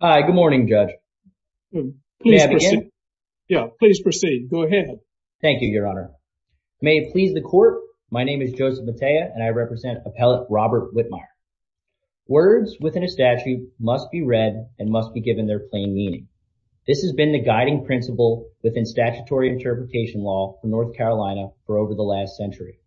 Hi, good morning, Judge. May I begin? Yeah, please proceed. Go ahead. Thank you, Your Honor. May it please the Court, my name is Joseph Matea and I represent Appellate Robert Whitmire. Words within a statute must be read and must be given their plain meaning. This has been the guiding principle within statutory interpretation law for North Carolina for over the last century.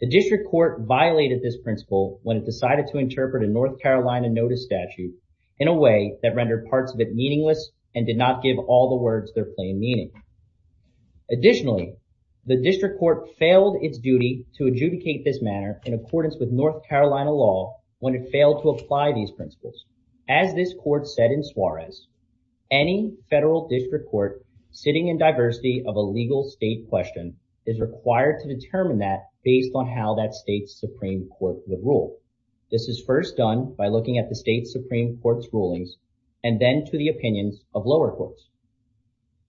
The District Court violated this principle when it decided to interpret a North Carolina notice statute in a way that rendered parts of it meaningless and did not give all the words their plain meaning. Additionally, the District Court failed its duty to adjudicate this manner in accordance with North Carolina law when it failed to apply these principles. As this Court said in Suarez, any federal district court sitting in diversity of a legal state question is required to determine that based on how that state's Supreme Court would rule. This is first done by looking at the state's Supreme Court's rulings and then to the opinions of lower courts.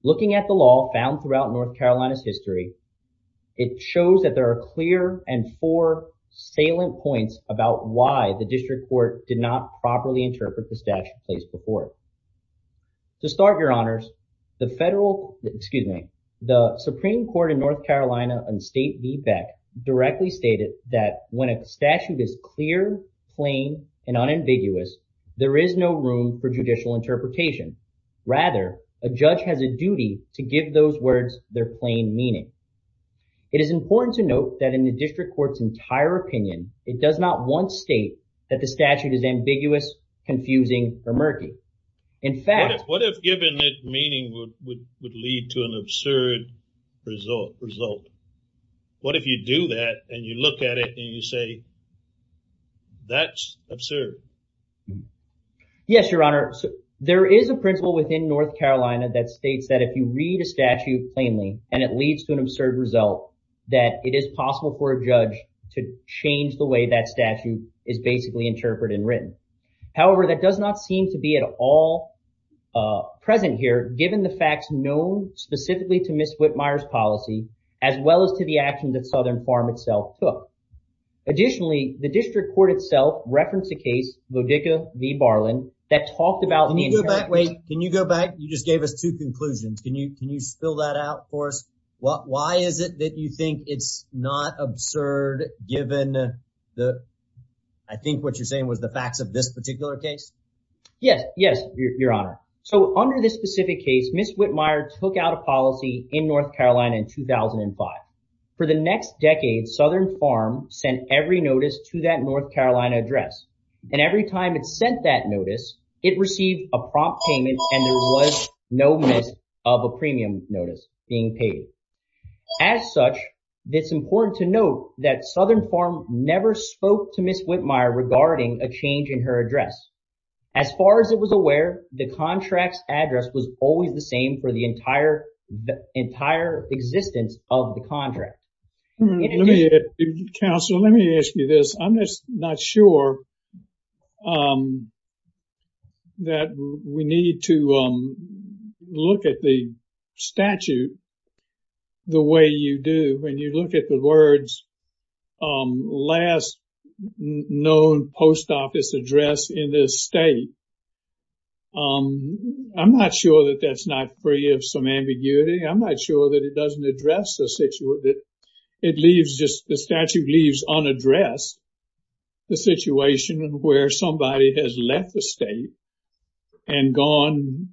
Looking at the law found throughout North Carolina's history, it shows that there are clear and four salient points about why the District Court did not properly interpret the statute placed before it. To start, Your Honors, the federal, excuse me, the Supreme Court in North Carolina and state feedback directly stated that when a statute is clear, plain, and unambiguous, there is no room for judicial interpretation. Rather, a judge has a duty to give those words their plain meaning. It is important to note that in the District Court's entire opinion, it does not once state that the statute is ambiguous, confusing, or murky. In fact, what if giving it meaning would lead to an absurd result? What if you do that, and you look at it, and you say, that's absurd. Yes, Your Honor. There is a principle within North Carolina that states that if you read a statute plainly, and it leads to an absurd result, that it is possible for a judge to change the way that statute is basically interpreted and written. However, that does not seem to be at all present here, given the facts known specifically to Ms. Whitmire's policy, as well as to the action that Southern Farm itself took. Additionally, the District Court itself referenced a case, Lodica v. Barland, that talked about- Can you go back? Wait. Can you go back? You just gave us two conclusions. Can you, can you spill that out for us? Why is it that you think it's not absurd given the, I think what you're saying was the facts of this particular case? Yes, yes, Your Honor. So under this specific case, Ms. Whitmire took out a policy in North Carolina in 2005. For the next decade, Southern Farm sent every notice to that North Carolina address. And every time it sent that notice, it received a prompt payment, and there was no miss of a premium notice being paid. As such, it's important to note that Southern Farm never spoke to Ms. Whitmire regarding a change in her address. As far as it was aware, the contract's address was always the same for the entire existence of the contract. Counselor, let me ask you this. I'm just not sure that we need to look at the statute the way you do when you look at the words, last known post office address in this state. I'm not sure that that's not free of some ambiguity. I'm not sure that it doesn't address the situation. It leaves just, the statute leaves unaddressed the situation where somebody has left the state and gone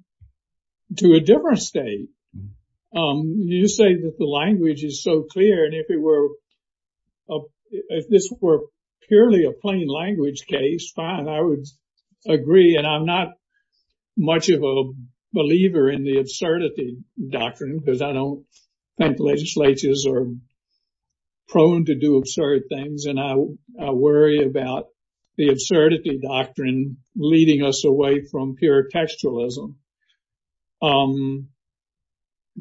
to a different state. You say that the language is so clear, and if this were purely a plain language case, fine, I would agree. And I'm not much of a believer in the absurdity doctrine because I don't think legislatures are prone to do absurd things. And I worry about the absurdity doctrine leading us to believe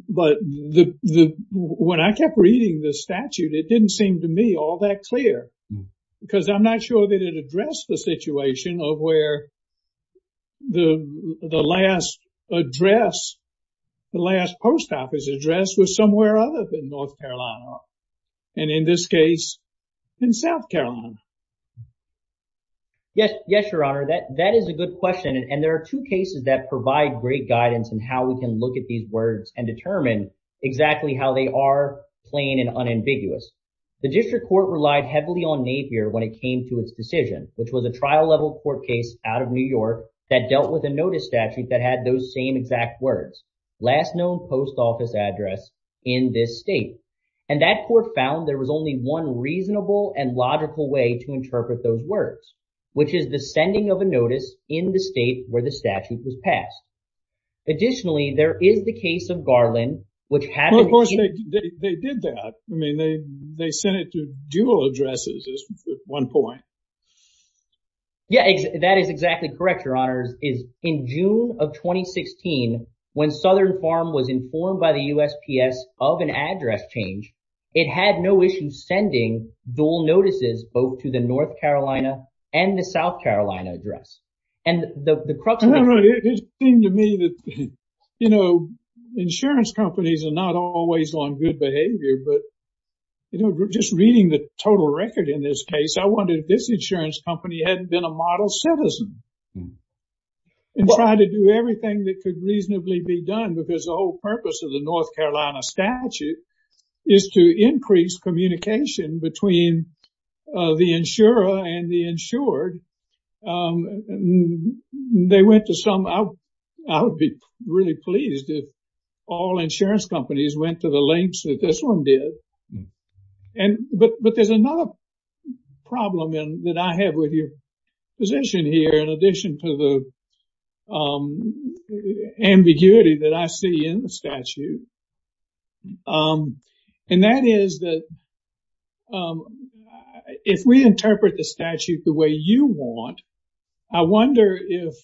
that. When I kept reading the statute, it didn't seem to me all that clear because I'm not sure that it addressed the situation of where the last address, the last post office address was somewhere other than North Carolina. And in this case, in South Carolina. Yes, Your Honor, that is a good question. And there are two cases that exactly how they are plain and unambiguous. The district court relied heavily on Napier when it came to its decision, which was a trial level court case out of New York that dealt with a notice statute that had those same exact words, last known post office address in this state. And that court found there was only one reasonable and logical way to interpret those words, which is the sending of a notice in the state where the statute was passed. Additionally, there is the case of Garland, which happened. Of course, they did that. I mean, they sent it to dual addresses at one point. Yeah, that is exactly correct, Your Honors. In June of 2016, when Southern Farm was informed by the USPS of an address change, it had no issue sending dual notices both to the North Carolina and the South Carolina address. It seemed to me that, you know, insurance companies are not always on good behavior, but just reading the total record in this case, I wondered if this insurance company hadn't been a model citizen and tried to do everything that could reasonably be done, because the whole purpose of the North Carolina statute is to increase communication between the insurer and the insured. They went to some, I would be really pleased if all insurance companies went to the lengths that this one did. But there's another problem that I have with your position here, in addition to the ambiguity that I see in the statute. And that is that if we interpret the statute the way you want, I wonder if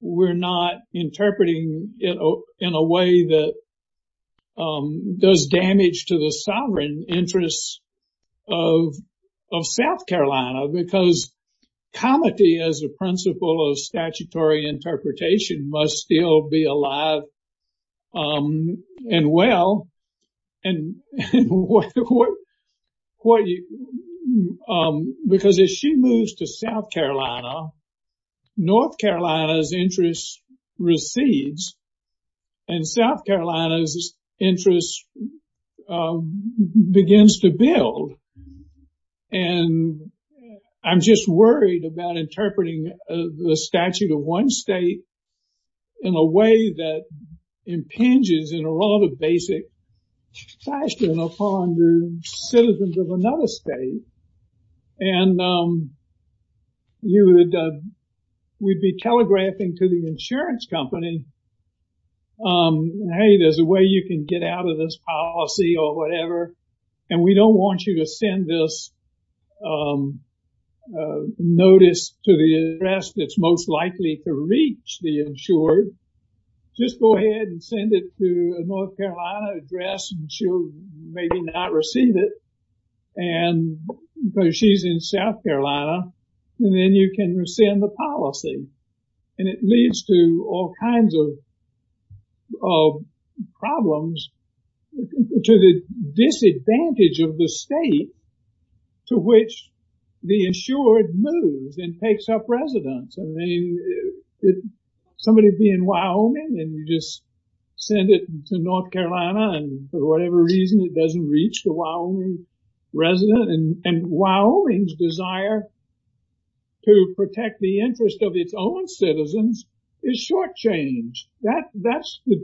we're not interpreting it in a way that does damage to the sovereign interests of South Carolina, because comity as a principle of statutory interpretation must still be alive and well. Because as she moves to South Carolina, North Carolina's interest recedes, and South Carolina's interest begins to build. And I'm just worried about interpreting the statute of one state in a way that impinges in a rather basic fashion upon the citizens of another state. And we'd be telegraphing to the insurance company, hey, there's a way you can get out of this policy or whatever, and we don't want you to send this notice to the address that's most likely to reach the insured. Just go ahead and send it to a North Carolina address and she'll maybe not receive it. And because she's in South Carolina, and then you can rescind the policy. And it leads to all kinds of problems to the state to which the insured moves and takes up residence. I mean, somebody being Wyoming and you just send it to North Carolina, and for whatever reason, it doesn't reach the Wyoming resident. And Wyoming's desire to protect the interest of its own citizens is shortchanged. That's the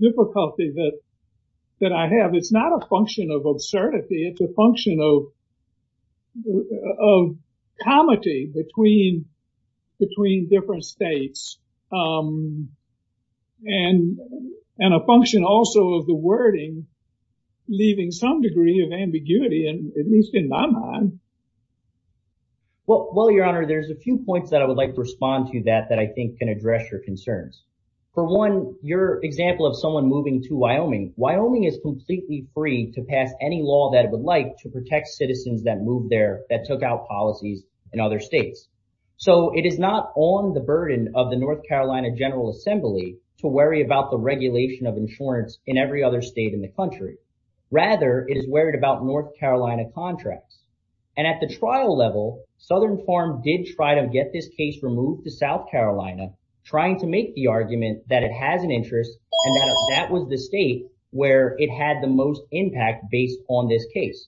of comity between different states. And a function also of the wording, leaving some degree of ambiguity, at least in my mind. Well, your honor, there's a few points that I would like to respond to that, that I think can address your concerns. For one, your example of someone moving to Wyoming. Wyoming is completely free to pass any law that it would like to protect citizens that moved there, that took out policies in other states. So it is not on the burden of the North Carolina General Assembly to worry about the regulation of insurance in every other state in the country. Rather, it is worried about North Carolina contracts. And at the trial level, Southern Farm did try to get this case removed to South Carolina, trying to make the argument that it has an interest. And that was the state where it had the most impact based on this case.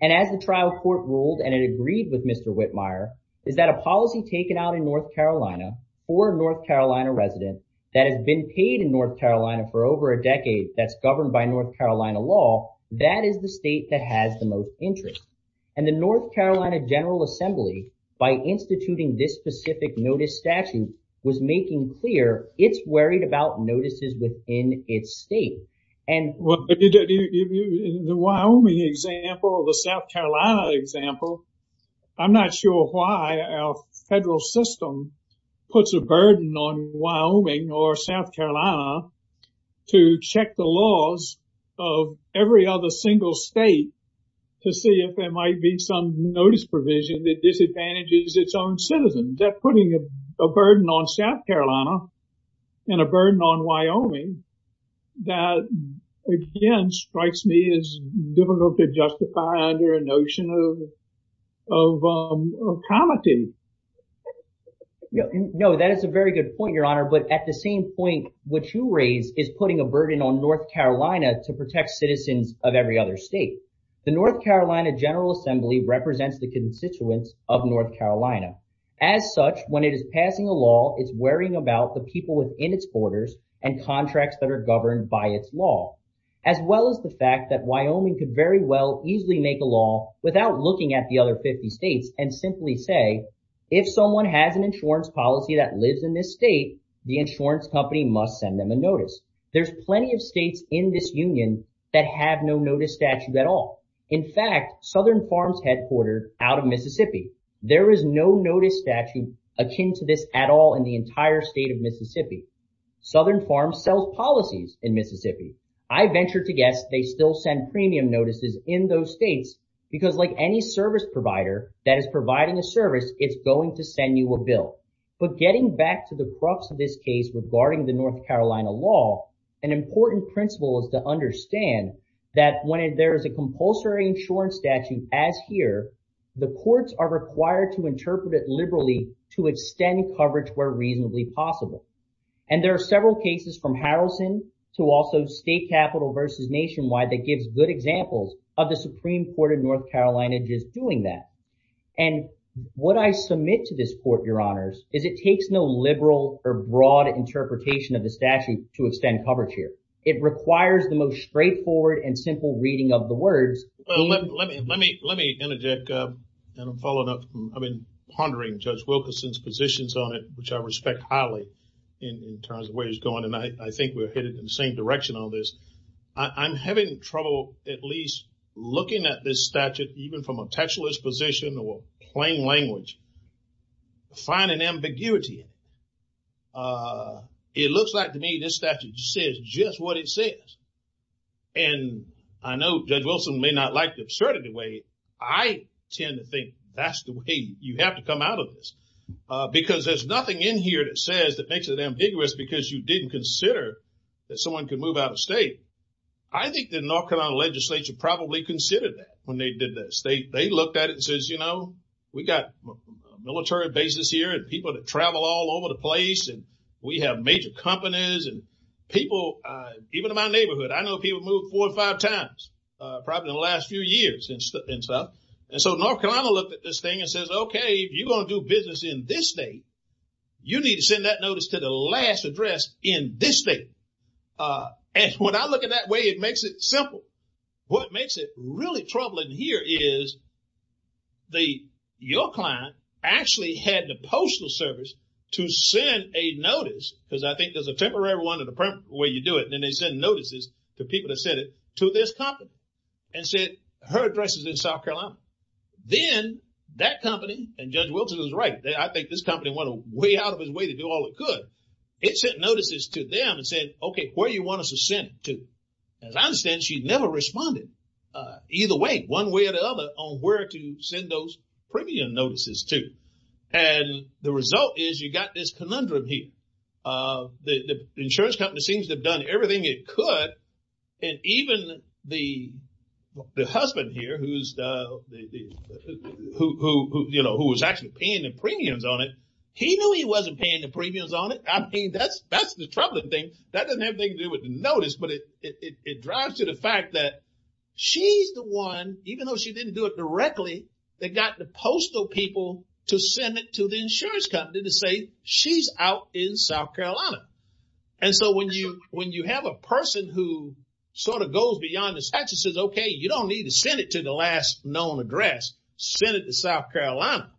And as the trial court ruled, and it agreed with Mr. Whitmire, is that a policy taken out in North Carolina, or a North Carolina resident that has been paid in North Carolina for over a decade, that's governed by North Carolina law, that is the state that has the most interest. And the North Carolina General Assembly, by instituting this specific notice statute, was making clear it's worried about notices within its state. The Wyoming example, the South Carolina example, I'm not sure why our federal system puts a burden on Wyoming or South Carolina to check the laws of every other single state to see if there might be some notice provision that disadvantages its own citizens. That's putting a burden on South Carolina and a burden on Wyoming that, again, strikes me as difficult to justify under a notion of comity. No, that is a very good point, Your Honor. But at the same point, what you raise is putting a burden on North Carolina to protect citizens of every other state. The North Carolina General Assembly represents the constituents of North Carolina. As such, when it is passing a law, it's worrying about the people within its borders and contracts that are governed by its law, as well as the fact that Wyoming could very well easily make a law without looking at the other 50 states and simply say, if someone has an insurance policy that lives in this state, the insurance company must send them a notice. There's plenty of states in this union that have no notice statute at all. In fact, Southern Farms headquartered out of Mississippi. There is no notice statute akin to this at all in the entire state of Mississippi. Southern Farms sells policies in Mississippi. I venture to guess they still send premium notices in those states because, like any service provider that is providing a service, it's going to send you a bill. But getting back to the crux of this case regarding the North Carolina law, an important principle is to understand that when there is a compulsory insurance statute, as here, the courts are required to interpret it liberally to extend coverage where reasonably possible. And there are several cases from Harrison to also state capital versus nationwide that gives good examples of the Supreme Court of North Carolina just doing that. And what I submit to this court, your honors, is it takes no liberal or broad interpretation of the statute to extend coverage here. It requires the most straightforward and simple reading of the words. Well, let me interject and follow up. I've been pondering Judge Wilkerson's positions on it, which I respect highly in terms of where he's going. And I think we're headed in the same direction on this. I'm having trouble at least looking at this statute, even from a textualist standpoint. This statute says just what it says. And I know Judge Wilson may not like the absurdity way. I tend to think that's the way you have to come out of this. Because there's nothing in here that says that makes it ambiguous because you didn't consider that someone could move out of state. I think the North Carolina legislature probably considered that when they did this. They looked at it and says, you know, we got military bases here and people that travel all over the place. And we have major companies and people, even in my neighborhood, I know people moved four or five times probably in the last few years in South. And so North Carolina looked at this thing and says, okay, if you're going to do business in this state, you need to send that notice to the last address in this state. And when I look at that way, it makes it simple. What makes it really troubling here is the, your client actually had the postal service to send a notice. Because I think there's a temporary one where you do it. And then they send notices to people that send it to this company and said, her address is in South Carolina. Then that company and Judge Wilson was right. I think this company went way out of his way to do all it could. It sent notices to them and said, okay, where do you want us to send it to? As I responded, either way, one way or the other on where to send those premium notices to. And the result is you got this conundrum here. The insurance company seems to have done everything it could. And even the husband here who was actually paying the premiums on it, he knew he wasn't paying the premiums on it. I mean, that's the troubling thing. That doesn't drive to the fact that she's the one, even though she didn't do it directly, that got the postal people to send it to the insurance company to say she's out in South Carolina. And so when you have a person who sort of goes beyond the statutes and says, okay, you don't need to send it to the last known address, send it to South Carolina.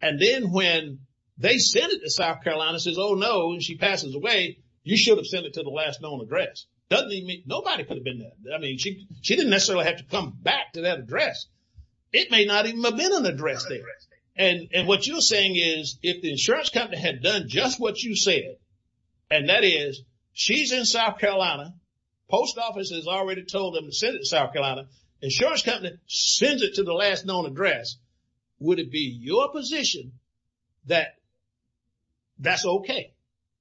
And then when they send it to South Carolina, it says, oh no, and she passes away, you should have sent it to the last known address. Nobody could have been there. I mean, she didn't necessarily have to come back to that address. It may not even have been an address there. And what you're saying is if the insurance company had done just what you said, and that is she's in South Carolina, post office has already told them to send it to South Carolina, insurance company sends it to the last known address. Would it be your position that that's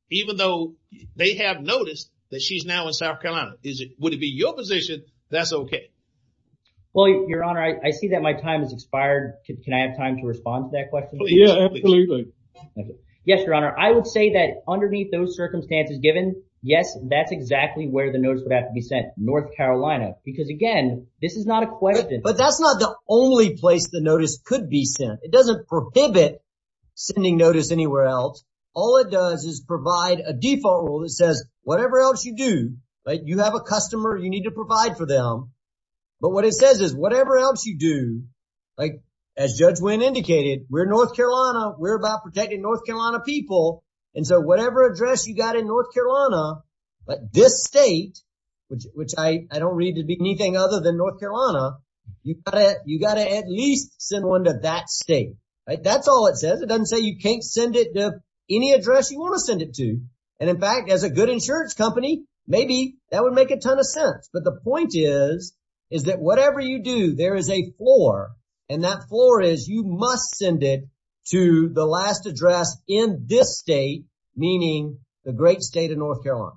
even though they have noticed that she's now in South Carolina? Would it be your position that's okay? Well, your honor, I see that my time has expired. Can I have time to respond to that question? Yeah, absolutely. Yes, your honor. I would say that underneath those circumstances given, yes, that's exactly where the notice would have to be sent, North Carolina, because again, this is not a question. But that's not the only place the notice could be sent. It doesn't prohibit sending notice anywhere else. All it does is provide a default rule that says whatever else you do, you have a customer, you need to provide for them. But what it says is whatever else you do, as Judge Wynn indicated, we're in North Carolina, we're about protecting North Carolina people. And so whatever address you got in North Carolina, this state, which I don't read to be anything other than North Carolina, you got to at least send one to that state. That's all it says. It doesn't say you can't send it to any address you want to send it to. And in fact, as a good insurance company, maybe that would make a ton of sense. But the point is, is that whatever you do, there is a floor and that floor is you must send it to the last address in this state, meaning the great state of North Carolina.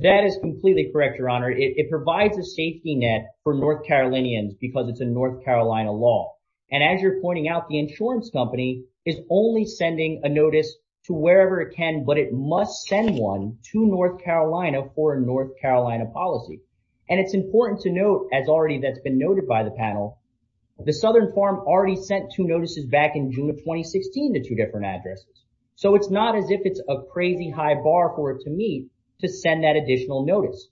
That is completely correct, your honor. It provides a safety net for North Carolinians because it's a North Carolina law. And as you're pointing out, the insurance company is only sending a notice to wherever it can, but it must send one to North Carolina for a North Carolina policy. And it's important to note, as already that's been noted by the panel, the Southern Farm already sent two notices back in June of 2016 to two different addresses. So it's not as if it's a crazy high bar for it to meet to send that additional notice.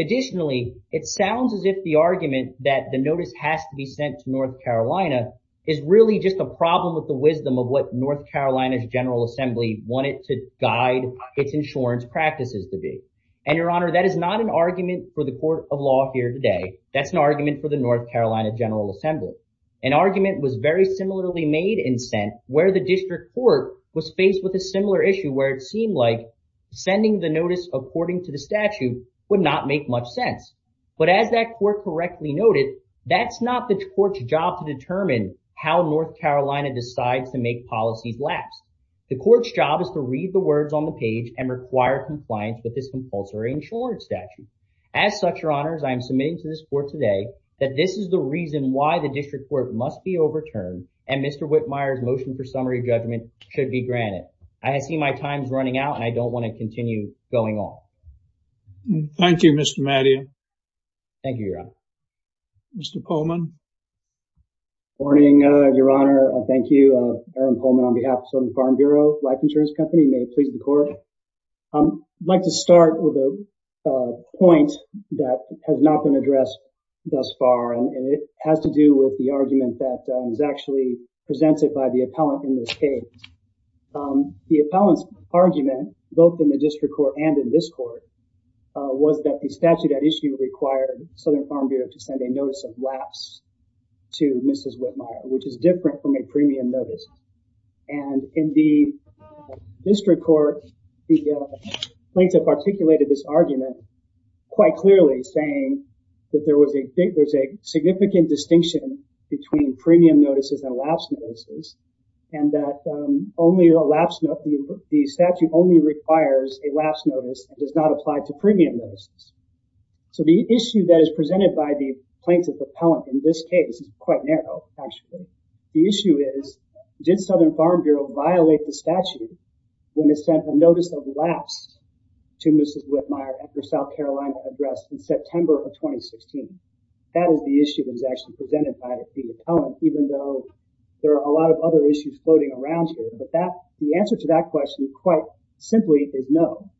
Additionally, it sounds as if the argument that the notice has to send to North Carolina is really just a problem with the wisdom of what North Carolina's General Assembly wanted to guide its insurance practices to be. And your honor, that is not an argument for the court of law here today. That's an argument for the North Carolina General Assembly. An argument was very similarly made and sent where the district court was faced with a similar issue where it seemed like sending the notice according to the statute would not make much sense. But as that court correctly noted, that's not the court's job to determine how North Carolina decides to make policies last. The court's job is to read the words on the page and require compliance with this compulsory insurance statute. As such, your honors, I am submitting to this court today that this is the reason why the district court must be overturned and Mr. Whitmire's motion for summary judgment should be granted. I see my time's running out and I don't want to continue going on. Thank you, Mr. Mattia. Thank you, your honor. Mr. Polman. Good morning, your honor. Thank you. Aaron Polman on behalf of Southern Farm Bureau Life Insurance Company. May it please the court. I'd like to start with a point that has not been addressed thus far and it has to do with the argument that was actually presented by the appellant in this court was that the statute at issue required Southern Farm Bureau to send a notice of lapse to Mrs. Whitmire, which is different from a premium notice. And in the district court, the plaintiff articulated this argument quite clearly saying that there was a significant distinction between premium notices and lapse notices and that the statute only requires a lapse notice and does not apply to premium notices. So, the issue that is presented by the plaintiff appellant in this case is quite narrow actually. The issue is did Southern Farm Bureau violate the statute when they sent a notice of lapse to Mrs. Whitmire at her South Carolina address in September of 2016? That is the issue that was actually presented by the appellant even though there are a lot of other issues floating around here. But that the answer to that question quite simply is no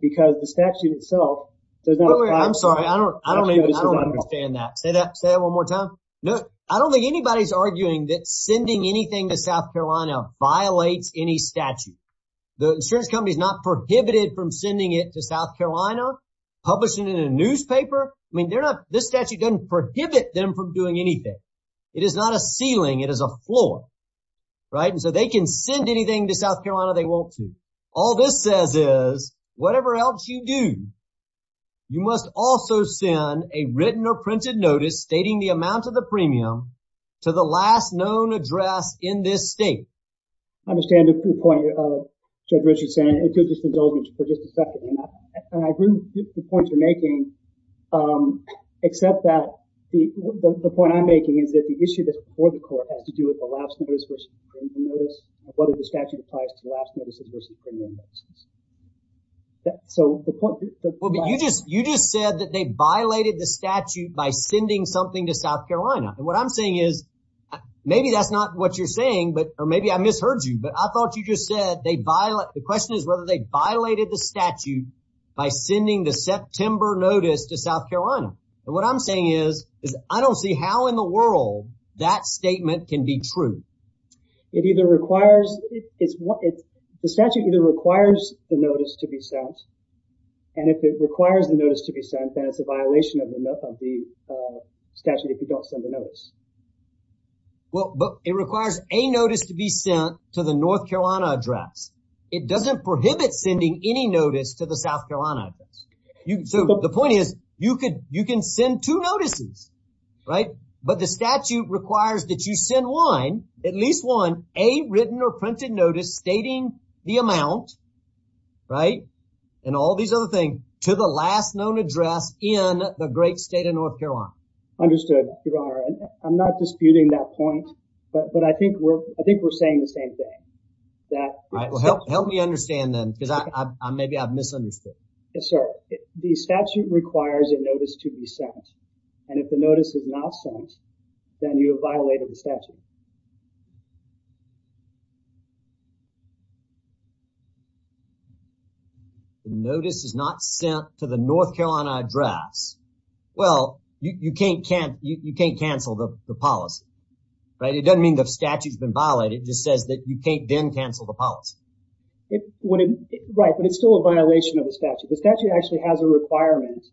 because the statute itself does not apply. I'm sorry. I don't understand that. Say that one more time. I don't think anybody's arguing that sending anything to South Carolina violates any statute. The insurance company is not prohibited from sending it to South Carolina, publishing it in a newspaper. I mean, this statute doesn't prohibit them from doing anything. It is not a ceiling. It is a floor, right? And so, they can send anything to South Carolina they want to. All this says is whatever else you do, you must also send a written or printed notice stating the amount of the premium to the last known address in this state. I understand the point Judge Richard's saying. It's just indulgence for just a second. And I agree with the points you're making except that the point I'm making is that the issue that's before the court has to do with last notice versus premium notice. What if the statute applies to last notices versus premium notices? So, the point that- Well, but you just said that they violated the statute by sending something to South Carolina. And what I'm saying is, maybe that's not what you're saying, or maybe I misheard you, but I thought you just said the question is whether they violated the statute by sending the September notice to South Carolina. And what I'm saying is, I don't see how in the It either requires- The statute either requires the notice to be sent, and if it requires the notice to be sent, then it's a violation of the statute if you don't send a notice. Well, but it requires a notice to be sent to the North Carolina address. It doesn't prohibit sending any notice to the South Carolina address. So, the point is, you can send two notices, right? But the statute requires that you send one, at least one, a written or printed notice stating the amount, right? And all these other things, to the last known address in the great state of North Carolina. Understood, Your Honor. I'm not disputing that point, but I think we're saying the same thing, that- Help me understand then, because maybe I've misunderstood. Yes, sir. The statute requires a notice to be sent, and if the notice is not sent, then you have violated the statute. The notice is not sent to the North Carolina address. Well, you can't cancel the policy, right? It doesn't mean the statute's been violated. It just says that you can't then The statute actually has a requirement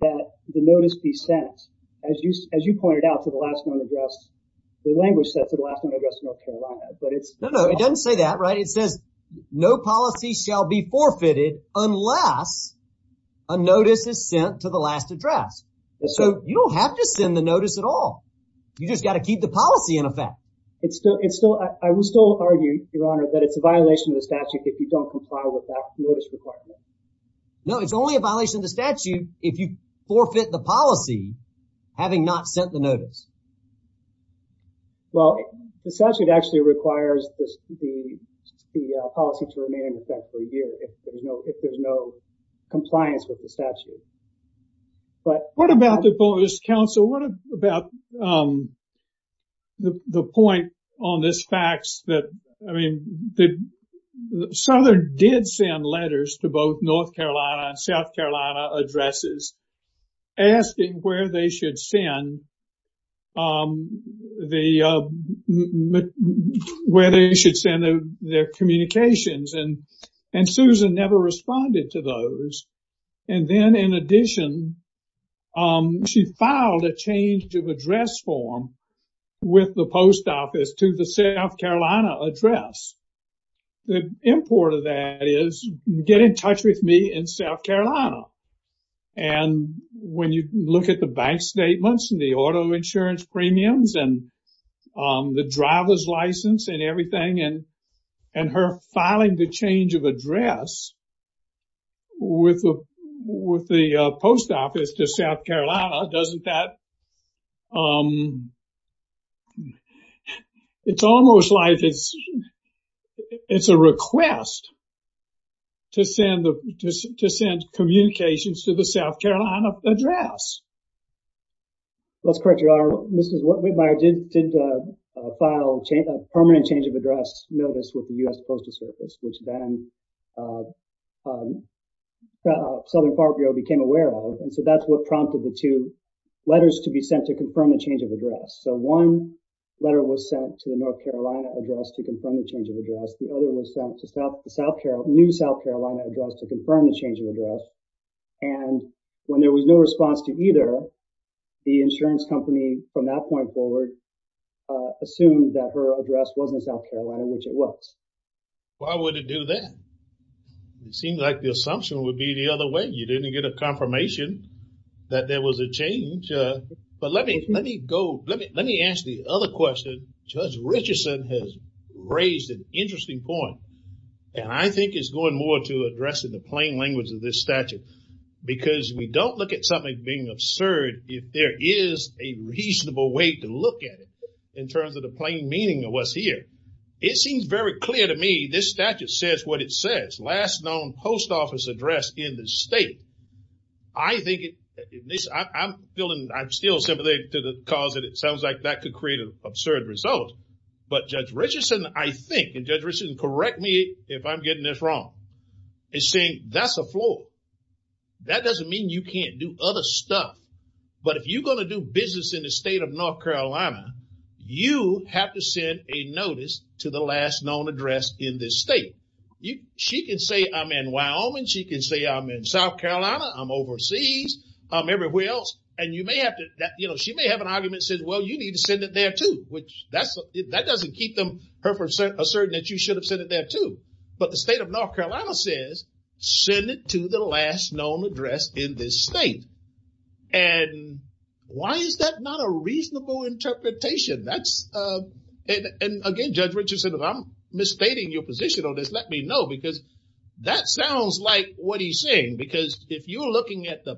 that the notice be sent, as you pointed out, to the last known address. The language said to the last known address in North Carolina, but it's- No, no. It doesn't say that, right? It says, no policy shall be forfeited unless a notice is sent to the last address. So, you don't have to send the notice at all. You just got to keep the policy in effect. I will still argue, Your Honor, that it's a violation of the statute if you don't comply with that notice requirement. No, it's only a violation of the statute if you forfeit the policy, having not sent the notice. Well, the statute actually requires the policy to remain in effect for a year if there's no compliance with the statute. But- Counsel, what about the point on this fax that, I mean, Southern did send letters to both North Carolina and South Carolina addresses asking where they should send their communications. And Susan never responded to those. And then, in addition, she filed a change of address form with the post office to the South Carolina address. The import of that is, get in touch with me in South Carolina. And when you look at the bank statements and the auto insurance premiums and the driver's license and everything and her filing the change of address with the post office to South Carolina, doesn't that... It's almost like it's a request to send communications to the South Carolina address. Let's correct you, Your Honor. Mrs. Whitmire did file a permanent change of address notice with the U.S. Postal Service, which then Southern Farm Bureau became aware of. And so that's what prompted the two letters to be sent to confirm the change of address. So one letter was sent to the North Carolina address to confirm the change of address. The other was sent to the new South Carolina address to confirm the change of address. And when there was no response to either of those the insurance company, from that point forward, assumed that her address wasn't South Carolina, which it was. Why would it do that? It seems like the assumption would be the other way. You didn't get a confirmation that there was a change. But let me ask the other question. Judge Richardson has raised an interesting point. And I think it's going more to address the plain language of this statute. Because we don't look at something being absurd if there is a reasonable way to look at it in terms of the plain meaning of what's here. It seems very clear to me this statute says what it says. Last known post office address in the state. I'm still sympathetic to the cause that it sounds like that could create an absurd result. But Judge Richardson, I think, and Judge Richardson correct me if I'm getting this wrong, is saying that's a flaw. That doesn't mean you can't do other stuff. But if you're going to do business in the state of North Carolina, you have to send a notice to the last known address in this state. She can say I'm in Wyoming. She can say I'm in South Carolina. I'm overseas. I'm everywhere else. And you may have to, you know, she may have an argument that says, well, you need to send it there, too. That doesn't keep her from asserting that you should have sent it there, too. But the state of North Carolina says send it to the last known address in this state. And why is that not a reasonable interpretation? And again, Judge Richardson, if I'm misstating your position on this, let me know. Because that sounds like what he's saying. Because if you're looking at the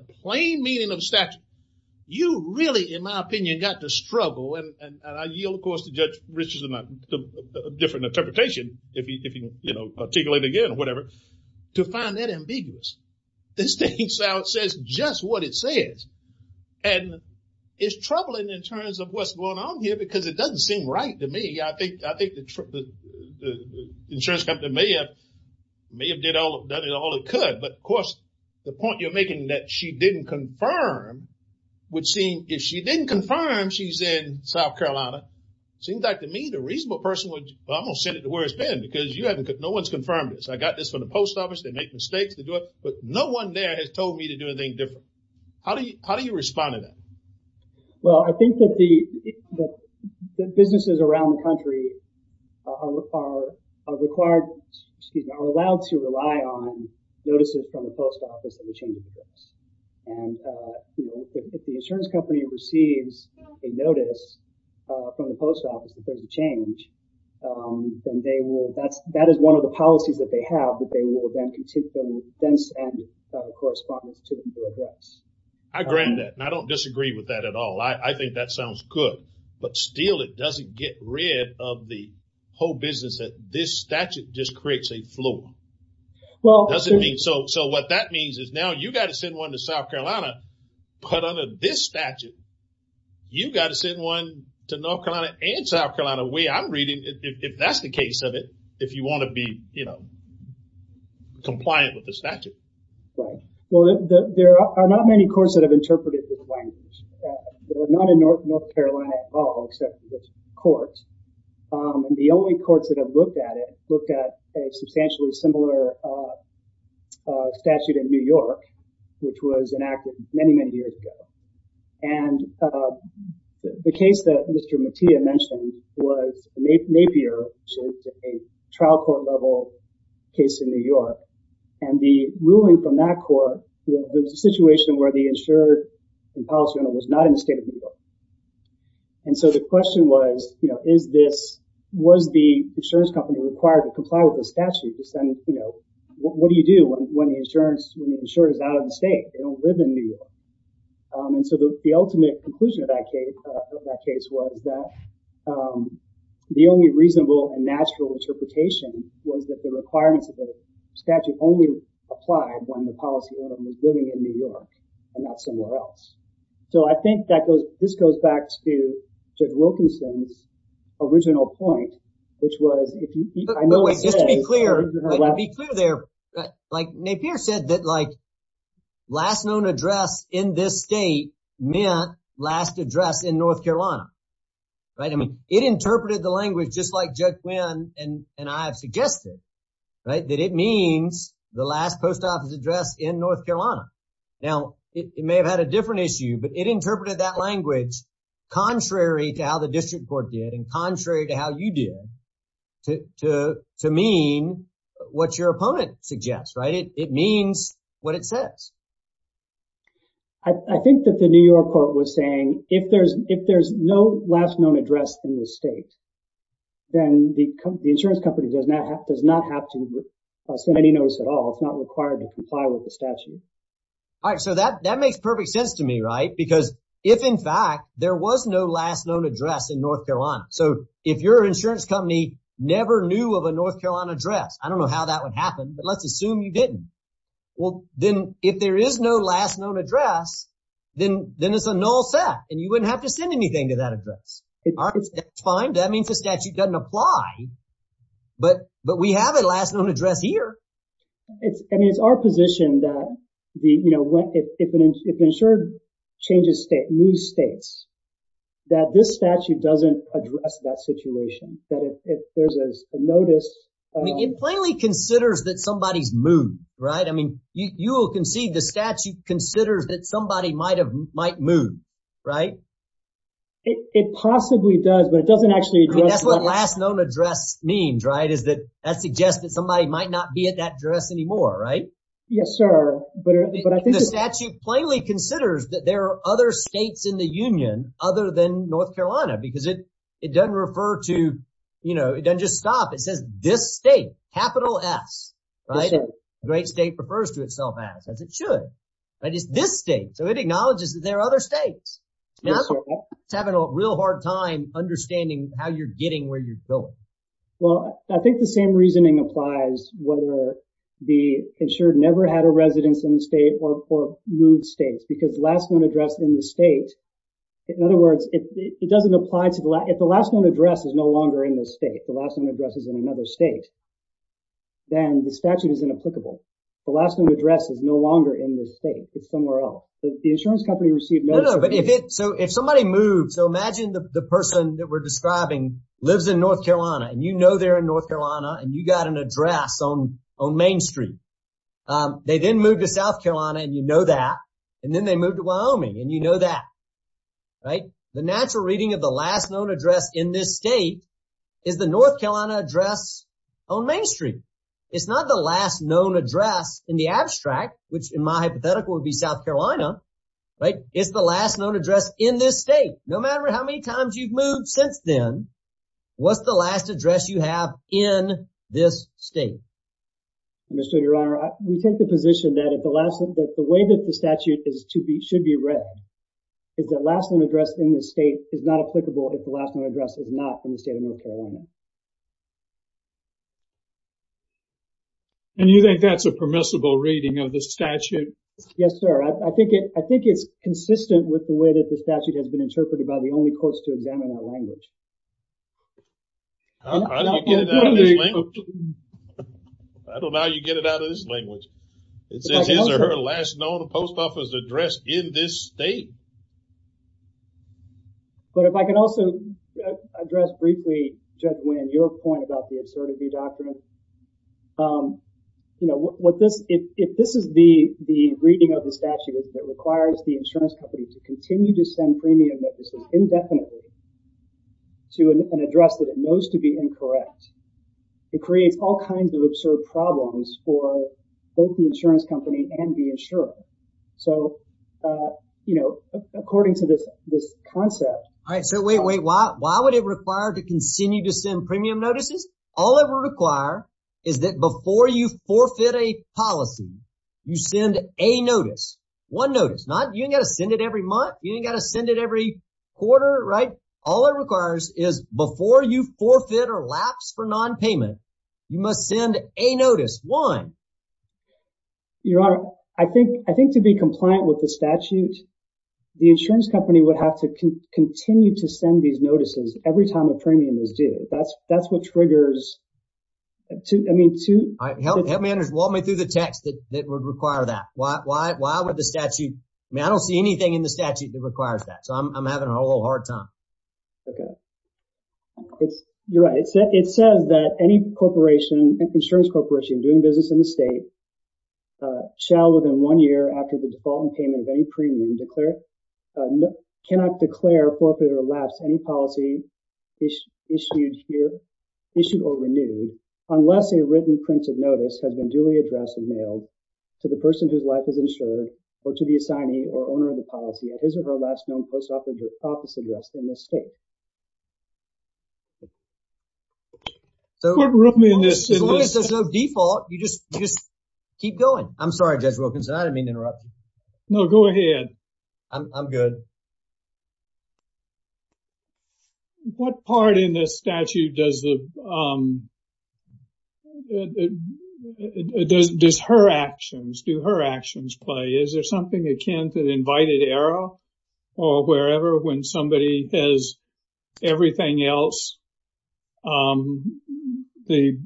and I yield, of course, to Judge Richardson, a different interpretation, if he, you know, articulate again or whatever, to find that ambiguous. The state of South says just what it says. And it's troubling in terms of what's going on here, because it doesn't seem right to me. I think the insurance company may have done all it could. But of course, the point you're making that she didn't confirm would seem, if she didn't confirm she's in South Carolina, seems like to me the reasonable person would, well, I'm going to send it to where it's been. Because you haven't, no one's confirmed this. I got this from the post office. They make mistakes. They do it. But no one there has told me to do anything different. How do you respond to that? Well, I think that the businesses around the country are allowed to rely on and, you know, if the insurance company receives a notice from the post office, that there's a change, then they will, that is one of the policies that they have, that they will then continue to send correspondence to them to address. I grant that. And I don't disagree with that at all. I think that sounds good. But still, it doesn't get rid of the whole business that this statute just creates a floor. Well, does it mean, so what that means is now you got to send one to South Carolina, but under this statute, you got to send one to North Carolina and South Carolina, the way I'm reading, if that's the case of it, if you want to be, you know, compliant with the statute. Right. Well, there are not many courts that have interpreted this language. They're not in North Carolina at all, except for the courts. And the only courts that have looked at a substantially similar statute in New York, which was enacted many, many years ago. And the case that Mr. Mattia mentioned was Napier, which is a trial court level case in New York. And the ruling from that court, there's a situation where the insured and policy owner was not in the state of New York. And so the question was, you know, is this, was the insurance company required to comply with the statute? And, you know, what do you do when the insurance, when the insured is out of the state, they don't live in New York. And so the ultimate conclusion of that case was that the only reasonable and natural interpretation was that the requirements of the statute only applied when the policy owner was living in New York and not in New York. But wait, just to be clear, to be clear there, like Napier said that like, last known address in this state meant last address in North Carolina. Right. I mean, it interpreted the language just like Judge Quinn and I have suggested, right, that it means the last post office address in North Carolina. Now, it may have had a different issue, but it did to mean what your opponent suggests, right? It means what it says. I think that the New York court was saying if there's no last known address in the state, then the insurance company does not have to send any notice at all. It's not required to comply with the statute. All right. So that makes perfect sense to me, right? Because if in fact there was no last known address in North Carolina. So if your insurance company never knew of a North Carolina address, I don't know how that would happen, but let's assume you didn't. Well, then if there is no last known address, then it's a null set and you wouldn't have to send anything to that address. It's fine. That means the statute doesn't apply. But we have a last known address here. I mean, it's our position that, you know, if insured news states that this statute doesn't address that situation, that if there's a notice. It plainly considers that somebody's moved, right? I mean, you will concede the statute considers that somebody might move, right? It possibly does, but it doesn't actually address. I mean, that's what last known address means, right? Is that that suggests that somebody might not be at that address anymore, right? Yes, sir. But the statute plainly considers that there are other states in the union other than North Carolina, because it doesn't refer to, you know, it doesn't just stop. It says this state, capital S, right? Great state refers to itself as it should. But it's this state. So it acknowledges that there are other states. It's having a real hard time understanding how you're getting where you're going. Well, I think the same reasoning applies whether the insured never had a residence in the state or moved states because last known address in the state. In other words, it doesn't apply to the last. If the last known address is no longer in the state, the last known address is in another state. Then the statute is inapplicable. The last known address is no longer in the state. It's somewhere else. The insurance company received no. But if it so if somebody moved, so imagine the person that we're describing lives in North Carolina and you got an address on Main Street, they didn't move to South Carolina and you know that and then they moved to Wyoming and you know that, right? The natural reading of the last known address in this state is the North Carolina address on Main Street. It's not the last known address in the abstract, which in my hypothetical would be South Carolina, right? It's the last known address in this state. No matter how many times you've moved since then, what's the last address you have in this state? Mr. Your Honor, we take the position that at the last that the way that the statute is to be should be read is that last known address in the state is not applicable if the last known address is not in the state of North Carolina. And you think that's a permissible reading of the statute? Yes, sir. I think it I think it's consistent with the way that the statute has been interpreted by the only courts to examine our language. I don't know how you get it out of this language. It says his or her last known post office address in this state. But if I can also address briefly, Judge Wynn, your point about the absurdity doctrine. You know what this if this is the the reading of the statute that requires the insurance company to continue to send premium notices indefinitely to an address that it knows to be incorrect. It creates all kinds of absurd problems for both the insurance company and the insurer. So, you know, according to this, this concept, I said, wait, wait, why? Why would it require to continue to send premium notices? All it will require is that before you forfeit a policy, you send a notice, one notice, not you got to send it every month. You got to send it every quarter. Right. All it requires is before you forfeit or lapse for nonpayment, you must send a notice one. Your Honor, I think I think to be compliant with the statute, the insurance company would have to continue to send these notices every time a premium is due. That's that's what triggers. I mean, to help help me and walk me through the text that would require that. Why? Why? Why would the statute? I don't see anything in the statute that requires that. I'm having a little hard time. Okay. It's you're right. It's it says that any corporation, insurance corporation doing business in the state shall within one year after the default and payment of any premium declared cannot declare forfeit or lapse any policy issued here, issued or renewed unless a written printed notice has been duly addressed and mailed to the person whose life is insured or to the assignee or owner of the policy at his or her last known post office address in the state. So there's no default. You just just keep going. I'm sorry, Judge Wilkinson. I didn't mean to interrupt. No, go ahead. I'm good. What part in this statute does the does her actions do her actions play? Is there something akin to the invited error? Or wherever when somebody has everything else, the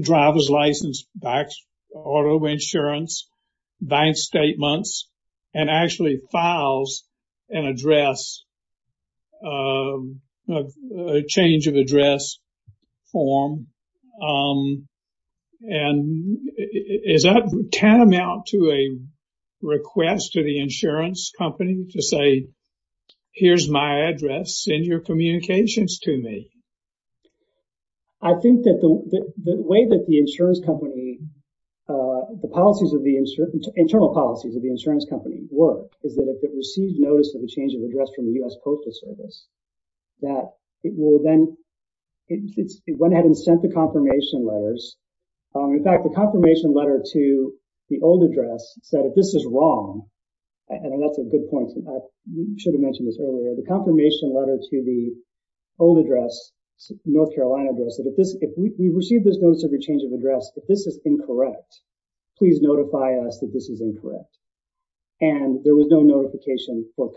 driver's license, auto insurance, bank statements, and actually files an address, a change of address form. And is that tantamount to a request to the insurance company to say, here's my address, send your communications to me? I think that the way that the insurance company, the policies of the insurance, internal policies of the insurance company work is that if it receives notice of a change of confirmation letters, in fact, the confirmation letter to the old address said, if this is wrong, and that's a good point, I should have mentioned this earlier, the confirmation letter to the old address, North Carolina address, if we receive this notice of a change of address, if this is incorrect, please notify us that this is incorrect. And there was no notification for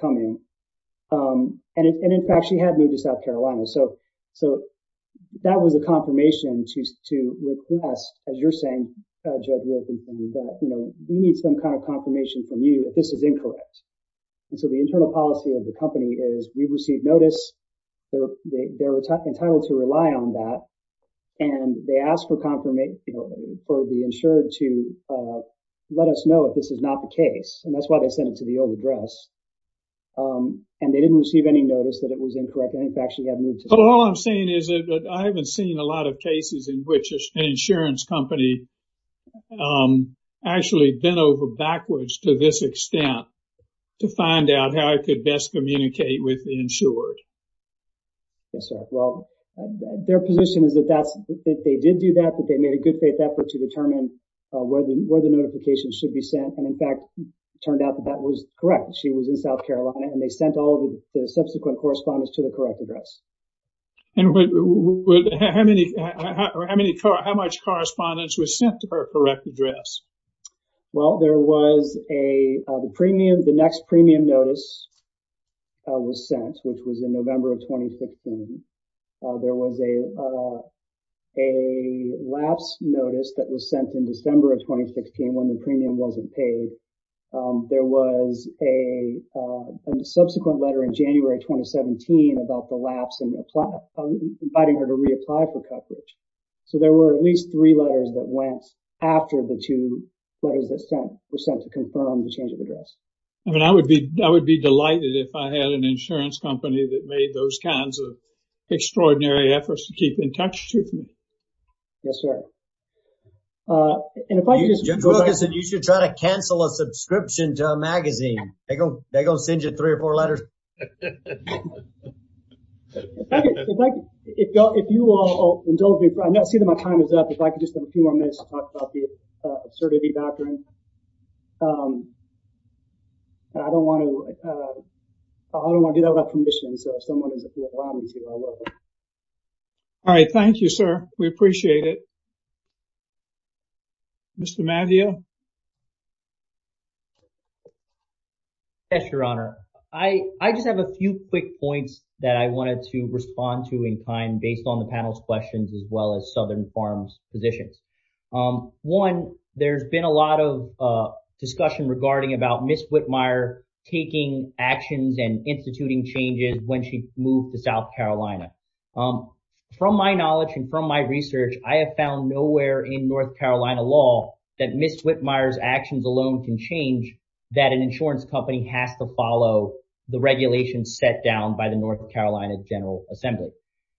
to request, as you're saying, Judge Wilkinson, that, you know, we need some kind of confirmation from you if this is incorrect. And so the internal policy of the company is we've received notice, they're entitled to rely on that. And they asked for confirmation, for the insured to let us know if this is not the case. And that's why they sent it to the old address. And they didn't receive any notice that it was incorrect. I think they actually had moved to the old address. But all I'm saying is that I haven't seen a lot of cases in which an insurance company actually bent over backwards to this extent, to find out how it could best communicate with the insured. Yes, sir. Well, their position is that they did do that, but they made a good faith effort to determine where the notification should be sent. And in fact, it turned out that that was correct. She was in South Carolina, and they sent all of the subsequent correspondence to the correct address. And how much correspondence was sent to her correct address? Well, there was a premium, the next premium notice was sent, which was in November of 2015. There was a lapse notice that was sent in December of 2015, when the premium wasn't paid. There was a subsequent letter in January 2017 about the lapse and inviting her to reapply for coverage. So there were at least three letters that went after the two letters that were sent to confirm the change of address. I mean, I would be delighted if I had an insurance company that made those kinds of extraordinary efforts to keep in touch with me. Yes, sir. And if I just... Jim Jorgensen, you should try to cancel a subscription to a magazine. They go, they go send you three or four letters. If you will indulge me, I see that my time is up. If I could just have a few more minutes to talk about the absurdity doctrine. I don't want to do that without permission. So if someone is willing to allow me to, I will. All right. Thank you, sir. We appreciate it. Mr. Mavio. Yes, Your Honor. I just have a few quick points that I wanted to respond to in time based on the panel's questions as well as Southern Farm's positions. One, there's been a lot of discussion regarding about Ms. Whitmire taking actions and instituting changes when she moved to South Carolina. From my knowledge and from my research, I have found nowhere in North Carolina law that Ms. Whitmire's actions alone can change that an insurance company has to follow the regulations set down by the North Carolina General Assembly.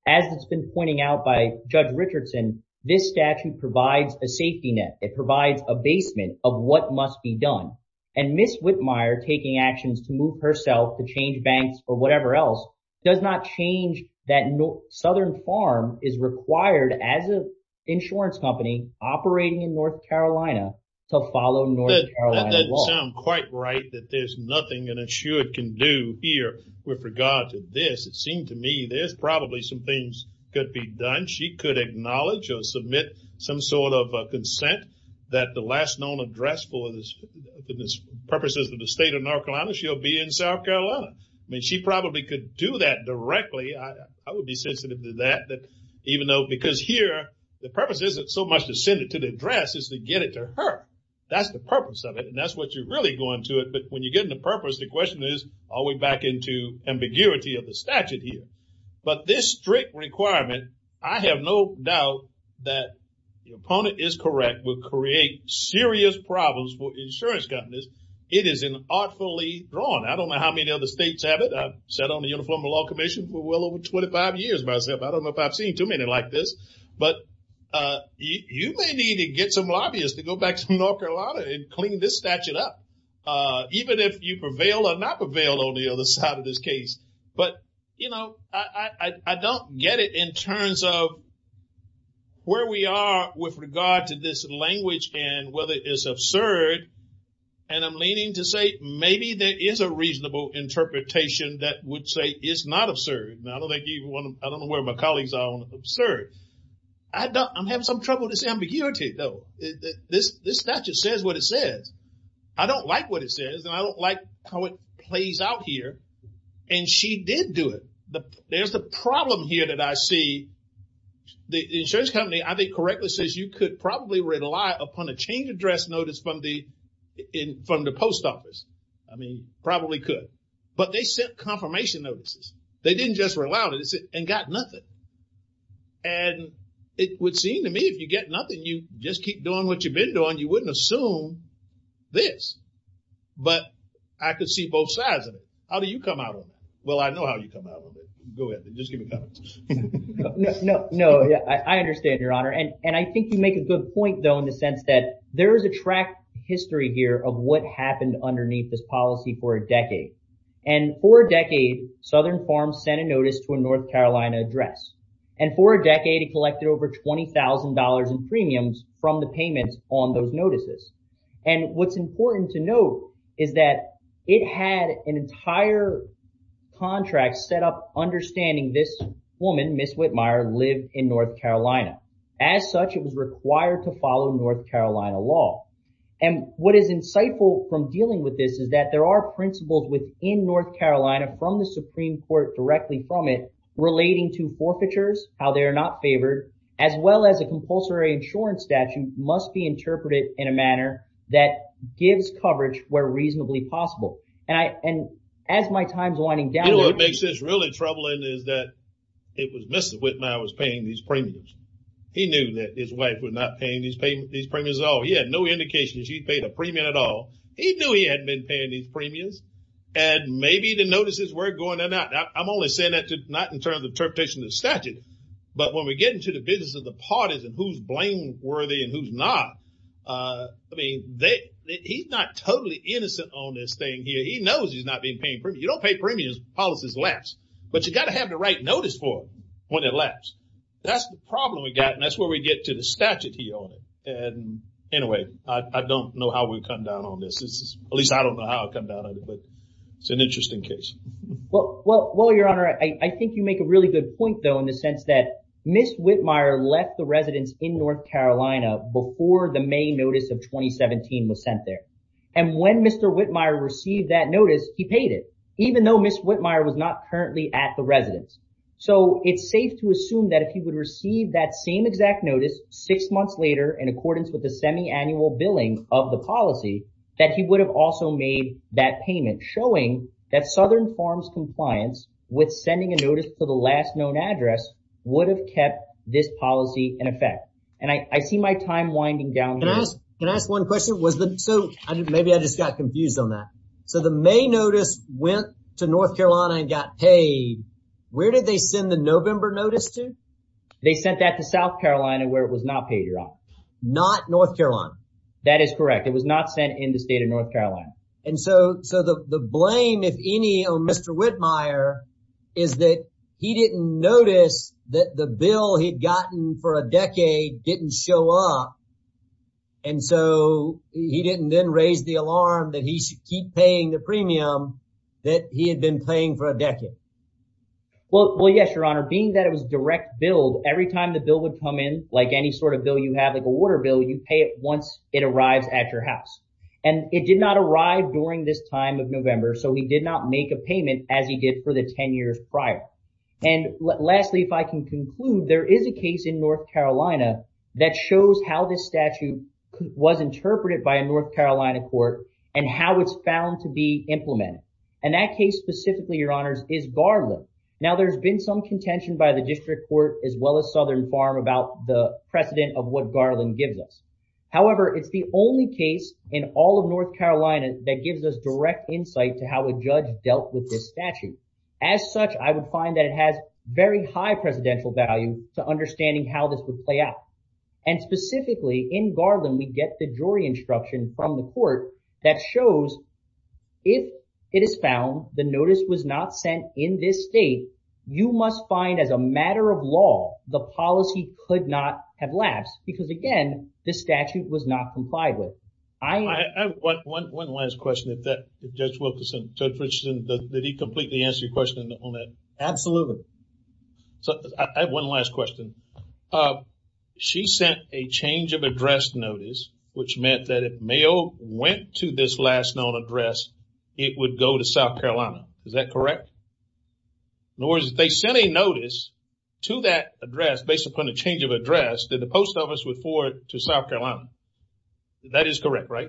As it's been pointing out by Judge Richardson, this statute provides a safety net. It provides a basement of what must be done. And Ms. Whitmire taking actions to move herself to change banks or whatever else does not change that Southern Farm is required as an insurance company operating in North Carolina to follow North Carolina law. That doesn't sound quite right that there's nothing an insurer can do here with regard to this. It seemed to me there's probably some things could be done. She could acknowledge or submit some sort of consent that the last known address for the purposes of the state of North Carolina, she'll be in South Carolina. I mean, she probably could do that directly. I would be sensitive to that even though because here the purpose isn't so much to send it to the address as to get it to her. That's the purpose of it and that's what you're really going to it. But when you're getting the purpose, the question is all the way back into ambiguity of the statute here. But this strict requirement, I have no doubt that the opponent is correct, will create serious problems for insurance companies. It is an artfully drawn. I don't know how many other states have it. I've sat on the Uniform Law Commission for well over 25 years myself. I don't know if I've seen too many like this. But you may need to get some lobbyists to go back to North Carolina and clean this statute up. Even if you prevail or not prevail on the other side of this case. But, you know, I don't get it in terms of where we are with regard to this language and whether it is absurd. And I'm leaning to say maybe there is a reasonable interpretation that would say it's not absurd. I don't know where my colleagues are on absurd. I'm having some trouble with this ambiguity though. This statute says what it says. I don't like what it says and I don't like how it plays out here. And she did do it. There's the problem here that I see. The insurance company, I think, correctly says you could probably rely upon a change address notice from the post office. I mean, probably could. But they sent confirmation notices. They didn't just rely on it and got nothing. And it would seem to me if you get nothing, you just keep doing what you've been doing. You wouldn't assume this. But I could see both sides of it. How do you come out with that? Well, I know how you come out with it. Go ahead. Just give me a comment. No, I understand, Your Honor. And I think you make a good point though in the sense that there is a track history here of what happened underneath this policy for a decade. And for a decade, it collected over $20,000 in premiums from the payments on those notices. And what's important to note is that it had an entire contract set up understanding this woman, Ms. Whitmire, lived in North Carolina. As such, it was required to follow North Carolina law. And what is insightful from dealing with this is that there are principles within North Carolina from the Supreme Court directly from it relating to forfeitures, how they are not favored, as well as a compulsory insurance statute must be interpreted in a manner that gives coverage where reasonably possible. And as my time's winding down- You know what makes this really troubling is that it was Ms. Whitmire was paying these premiums. He knew that his wife was not paying these premiums at all. He had no indication that he paid a premium at all. He knew he hadn't been paying these premiums. And maybe the notices were going to that. I'm only saying that not in terms of interpretation of the statute. But when we get into the business of the parties and who's blameworthy and who's not, I mean, he's not totally innocent on this thing here. He knows he's not being paid premiums. You don't pay premiums when policies lapse. But you got to have the right notice for when it lapse. That's the problem we got. And that's where we get to the statute, Your Honor. Anyway, I don't know how we come down on this. At least I don't know how I come down on it, but it's an interesting case. Well, Your Honor, I think you make a really good point, though, in the sense that Ms. Whitmire left the residence in North Carolina before the May notice of 2017 was sent there. And when Mr. Whitmire received that notice, he paid it, even though Ms. Whitmire was not currently at the residence. So it's safe to assume that if months later, in accordance with the semiannual billing of the policy, that he would have also made that payment, showing that Southern Farms compliance with sending a notice to the last known address would have kept this policy in effect. And I see my time winding down. Can I ask one question? So maybe I just got confused on that. So the May notice went to North Carolina and got paid. Where did they send the November notice to? They sent that to South Carolina where it was not paid, Your Honor. Not North Carolina? That is correct. It was not sent in the state of North Carolina. And so the blame, if any, on Mr. Whitmire is that he didn't notice that the bill he'd gotten for a decade didn't show up. And so he didn't then raise the alarm that he should keep paying the premium that he had been paying for a decade. Well, yes, Your Honor. Being that it was direct every time the bill would come in, like any sort of bill you have, like a water bill, you pay it once it arrives at your house. And it did not arrive during this time of November. So he did not make a payment as he did for the 10 years prior. And lastly, if I can conclude, there is a case in North Carolina that shows how this statute was interpreted by a North Carolina court and how it's found to be implemented. And that case specifically, Your Honors, is Garland. Now, there's been some contention by the district court as well as Southern Farm about the precedent of what Garland gives us. However, it's the only case in all of North Carolina that gives us direct insight to how a judge dealt with this statute. As such, I would find that it has very high presidential value to understanding how this would play out. And specifically, in Garland, we get the jury instruction from the court that shows if it is found the notice was not sent in this state, you must find as a matter of law, the policy could not have lapsed. Because again, the statute was not complied with. I have one last question. Judge Wilkerson, Judge Richardson, did he completely answer your question on that? Absolutely. So I have one last question. She sent a change of address notice, which meant that if Mayo went to this last known address, it would go to South Carolina. Is that correct? In other words, they sent a notice to that address based upon a change of address that the post office would forward to South Carolina. That is correct, right?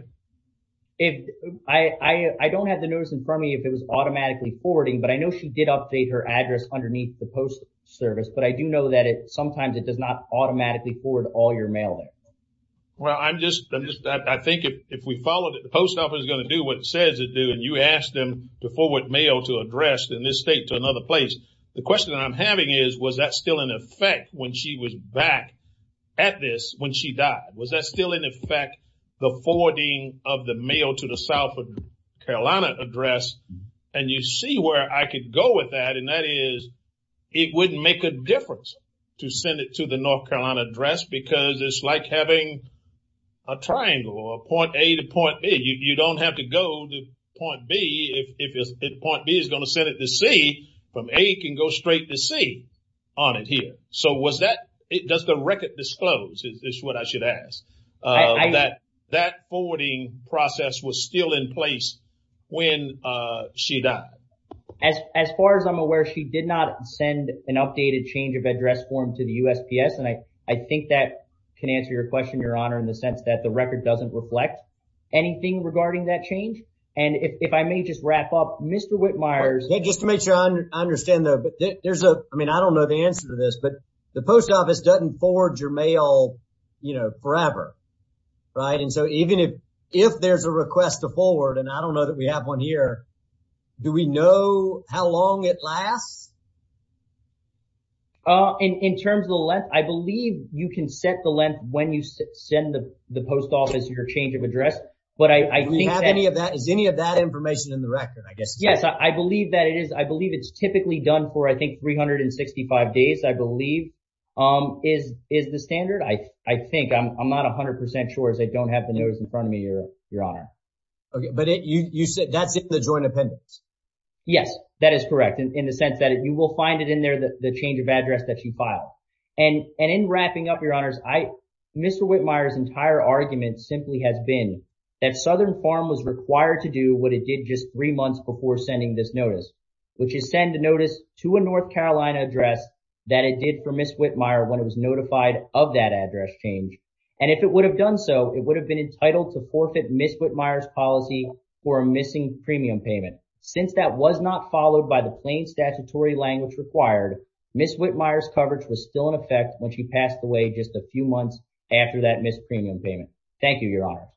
I don't have the notice in front of me if it was automatically forwarding, but I know she did update her address underneath the post service. But I do know that sometimes it does not automatically forward all your mailing. Well, I think if we followed it, the post office is going to do what it says to do. And you asked them to forward Mayo to address in this state to another place. The question I'm having is, was that still in effect when she was back at this when she died? Was that still in effect, the forwarding of the mail to the South Carolina address? And you see where I could go with that. And that is, it wouldn't make a difference to send it to the South Carolina address because it's like having a triangle or a point A to point B. You don't have to go to point B if point B is going to send it to C, from A can go straight to C on it here. So was that, does the record disclose, is what I should ask, that that forwarding process was still in place when she died? As far as I'm aware, she did not send an updated change of address form to the USPS. And I think that can answer your question, your honor, in the sense that the record doesn't reflect anything regarding that change. And if I may just wrap up, Mr. Whitmire. Just to make sure I understand that, but there's a, I mean, I don't know the answer to this, but the post office doesn't forward your mail, you know, forever. Right. And so even if, if there's a request to forward, and I don't know that we have one here, do we know how long it lasts? In terms of the length, I believe you can set the length when you send the post office your change of address. But I think that- Do we have any of that, is any of that information in the record, I guess? Yes, I believe that it is. I believe it's typically done for, I think, 365 days, I believe, is the standard. I think, I'm not 100% sure as I don't have the notice in front of me, your honor. Okay. But you said that's in the joint appendix? Yes, that is correct. In the sense that it's you will find it in there, the change of address that you filed. And in wrapping up, your honors, Mr. Whitmire's entire argument simply has been that Southern Farm was required to do what it did just three months before sending this notice, which is send a notice to a North Carolina address that it did for Ms. Whitmire when it was notified of that address change. And if it would have done so, it would have been entitled to forfeit Ms. Whitmire's policy for a missing premium payment. Since that was not followed by the plain statutory language required, Ms. Whitmire's coverage was still in effect when she passed away just a few months after that missed premium payment. Thank you, your honor.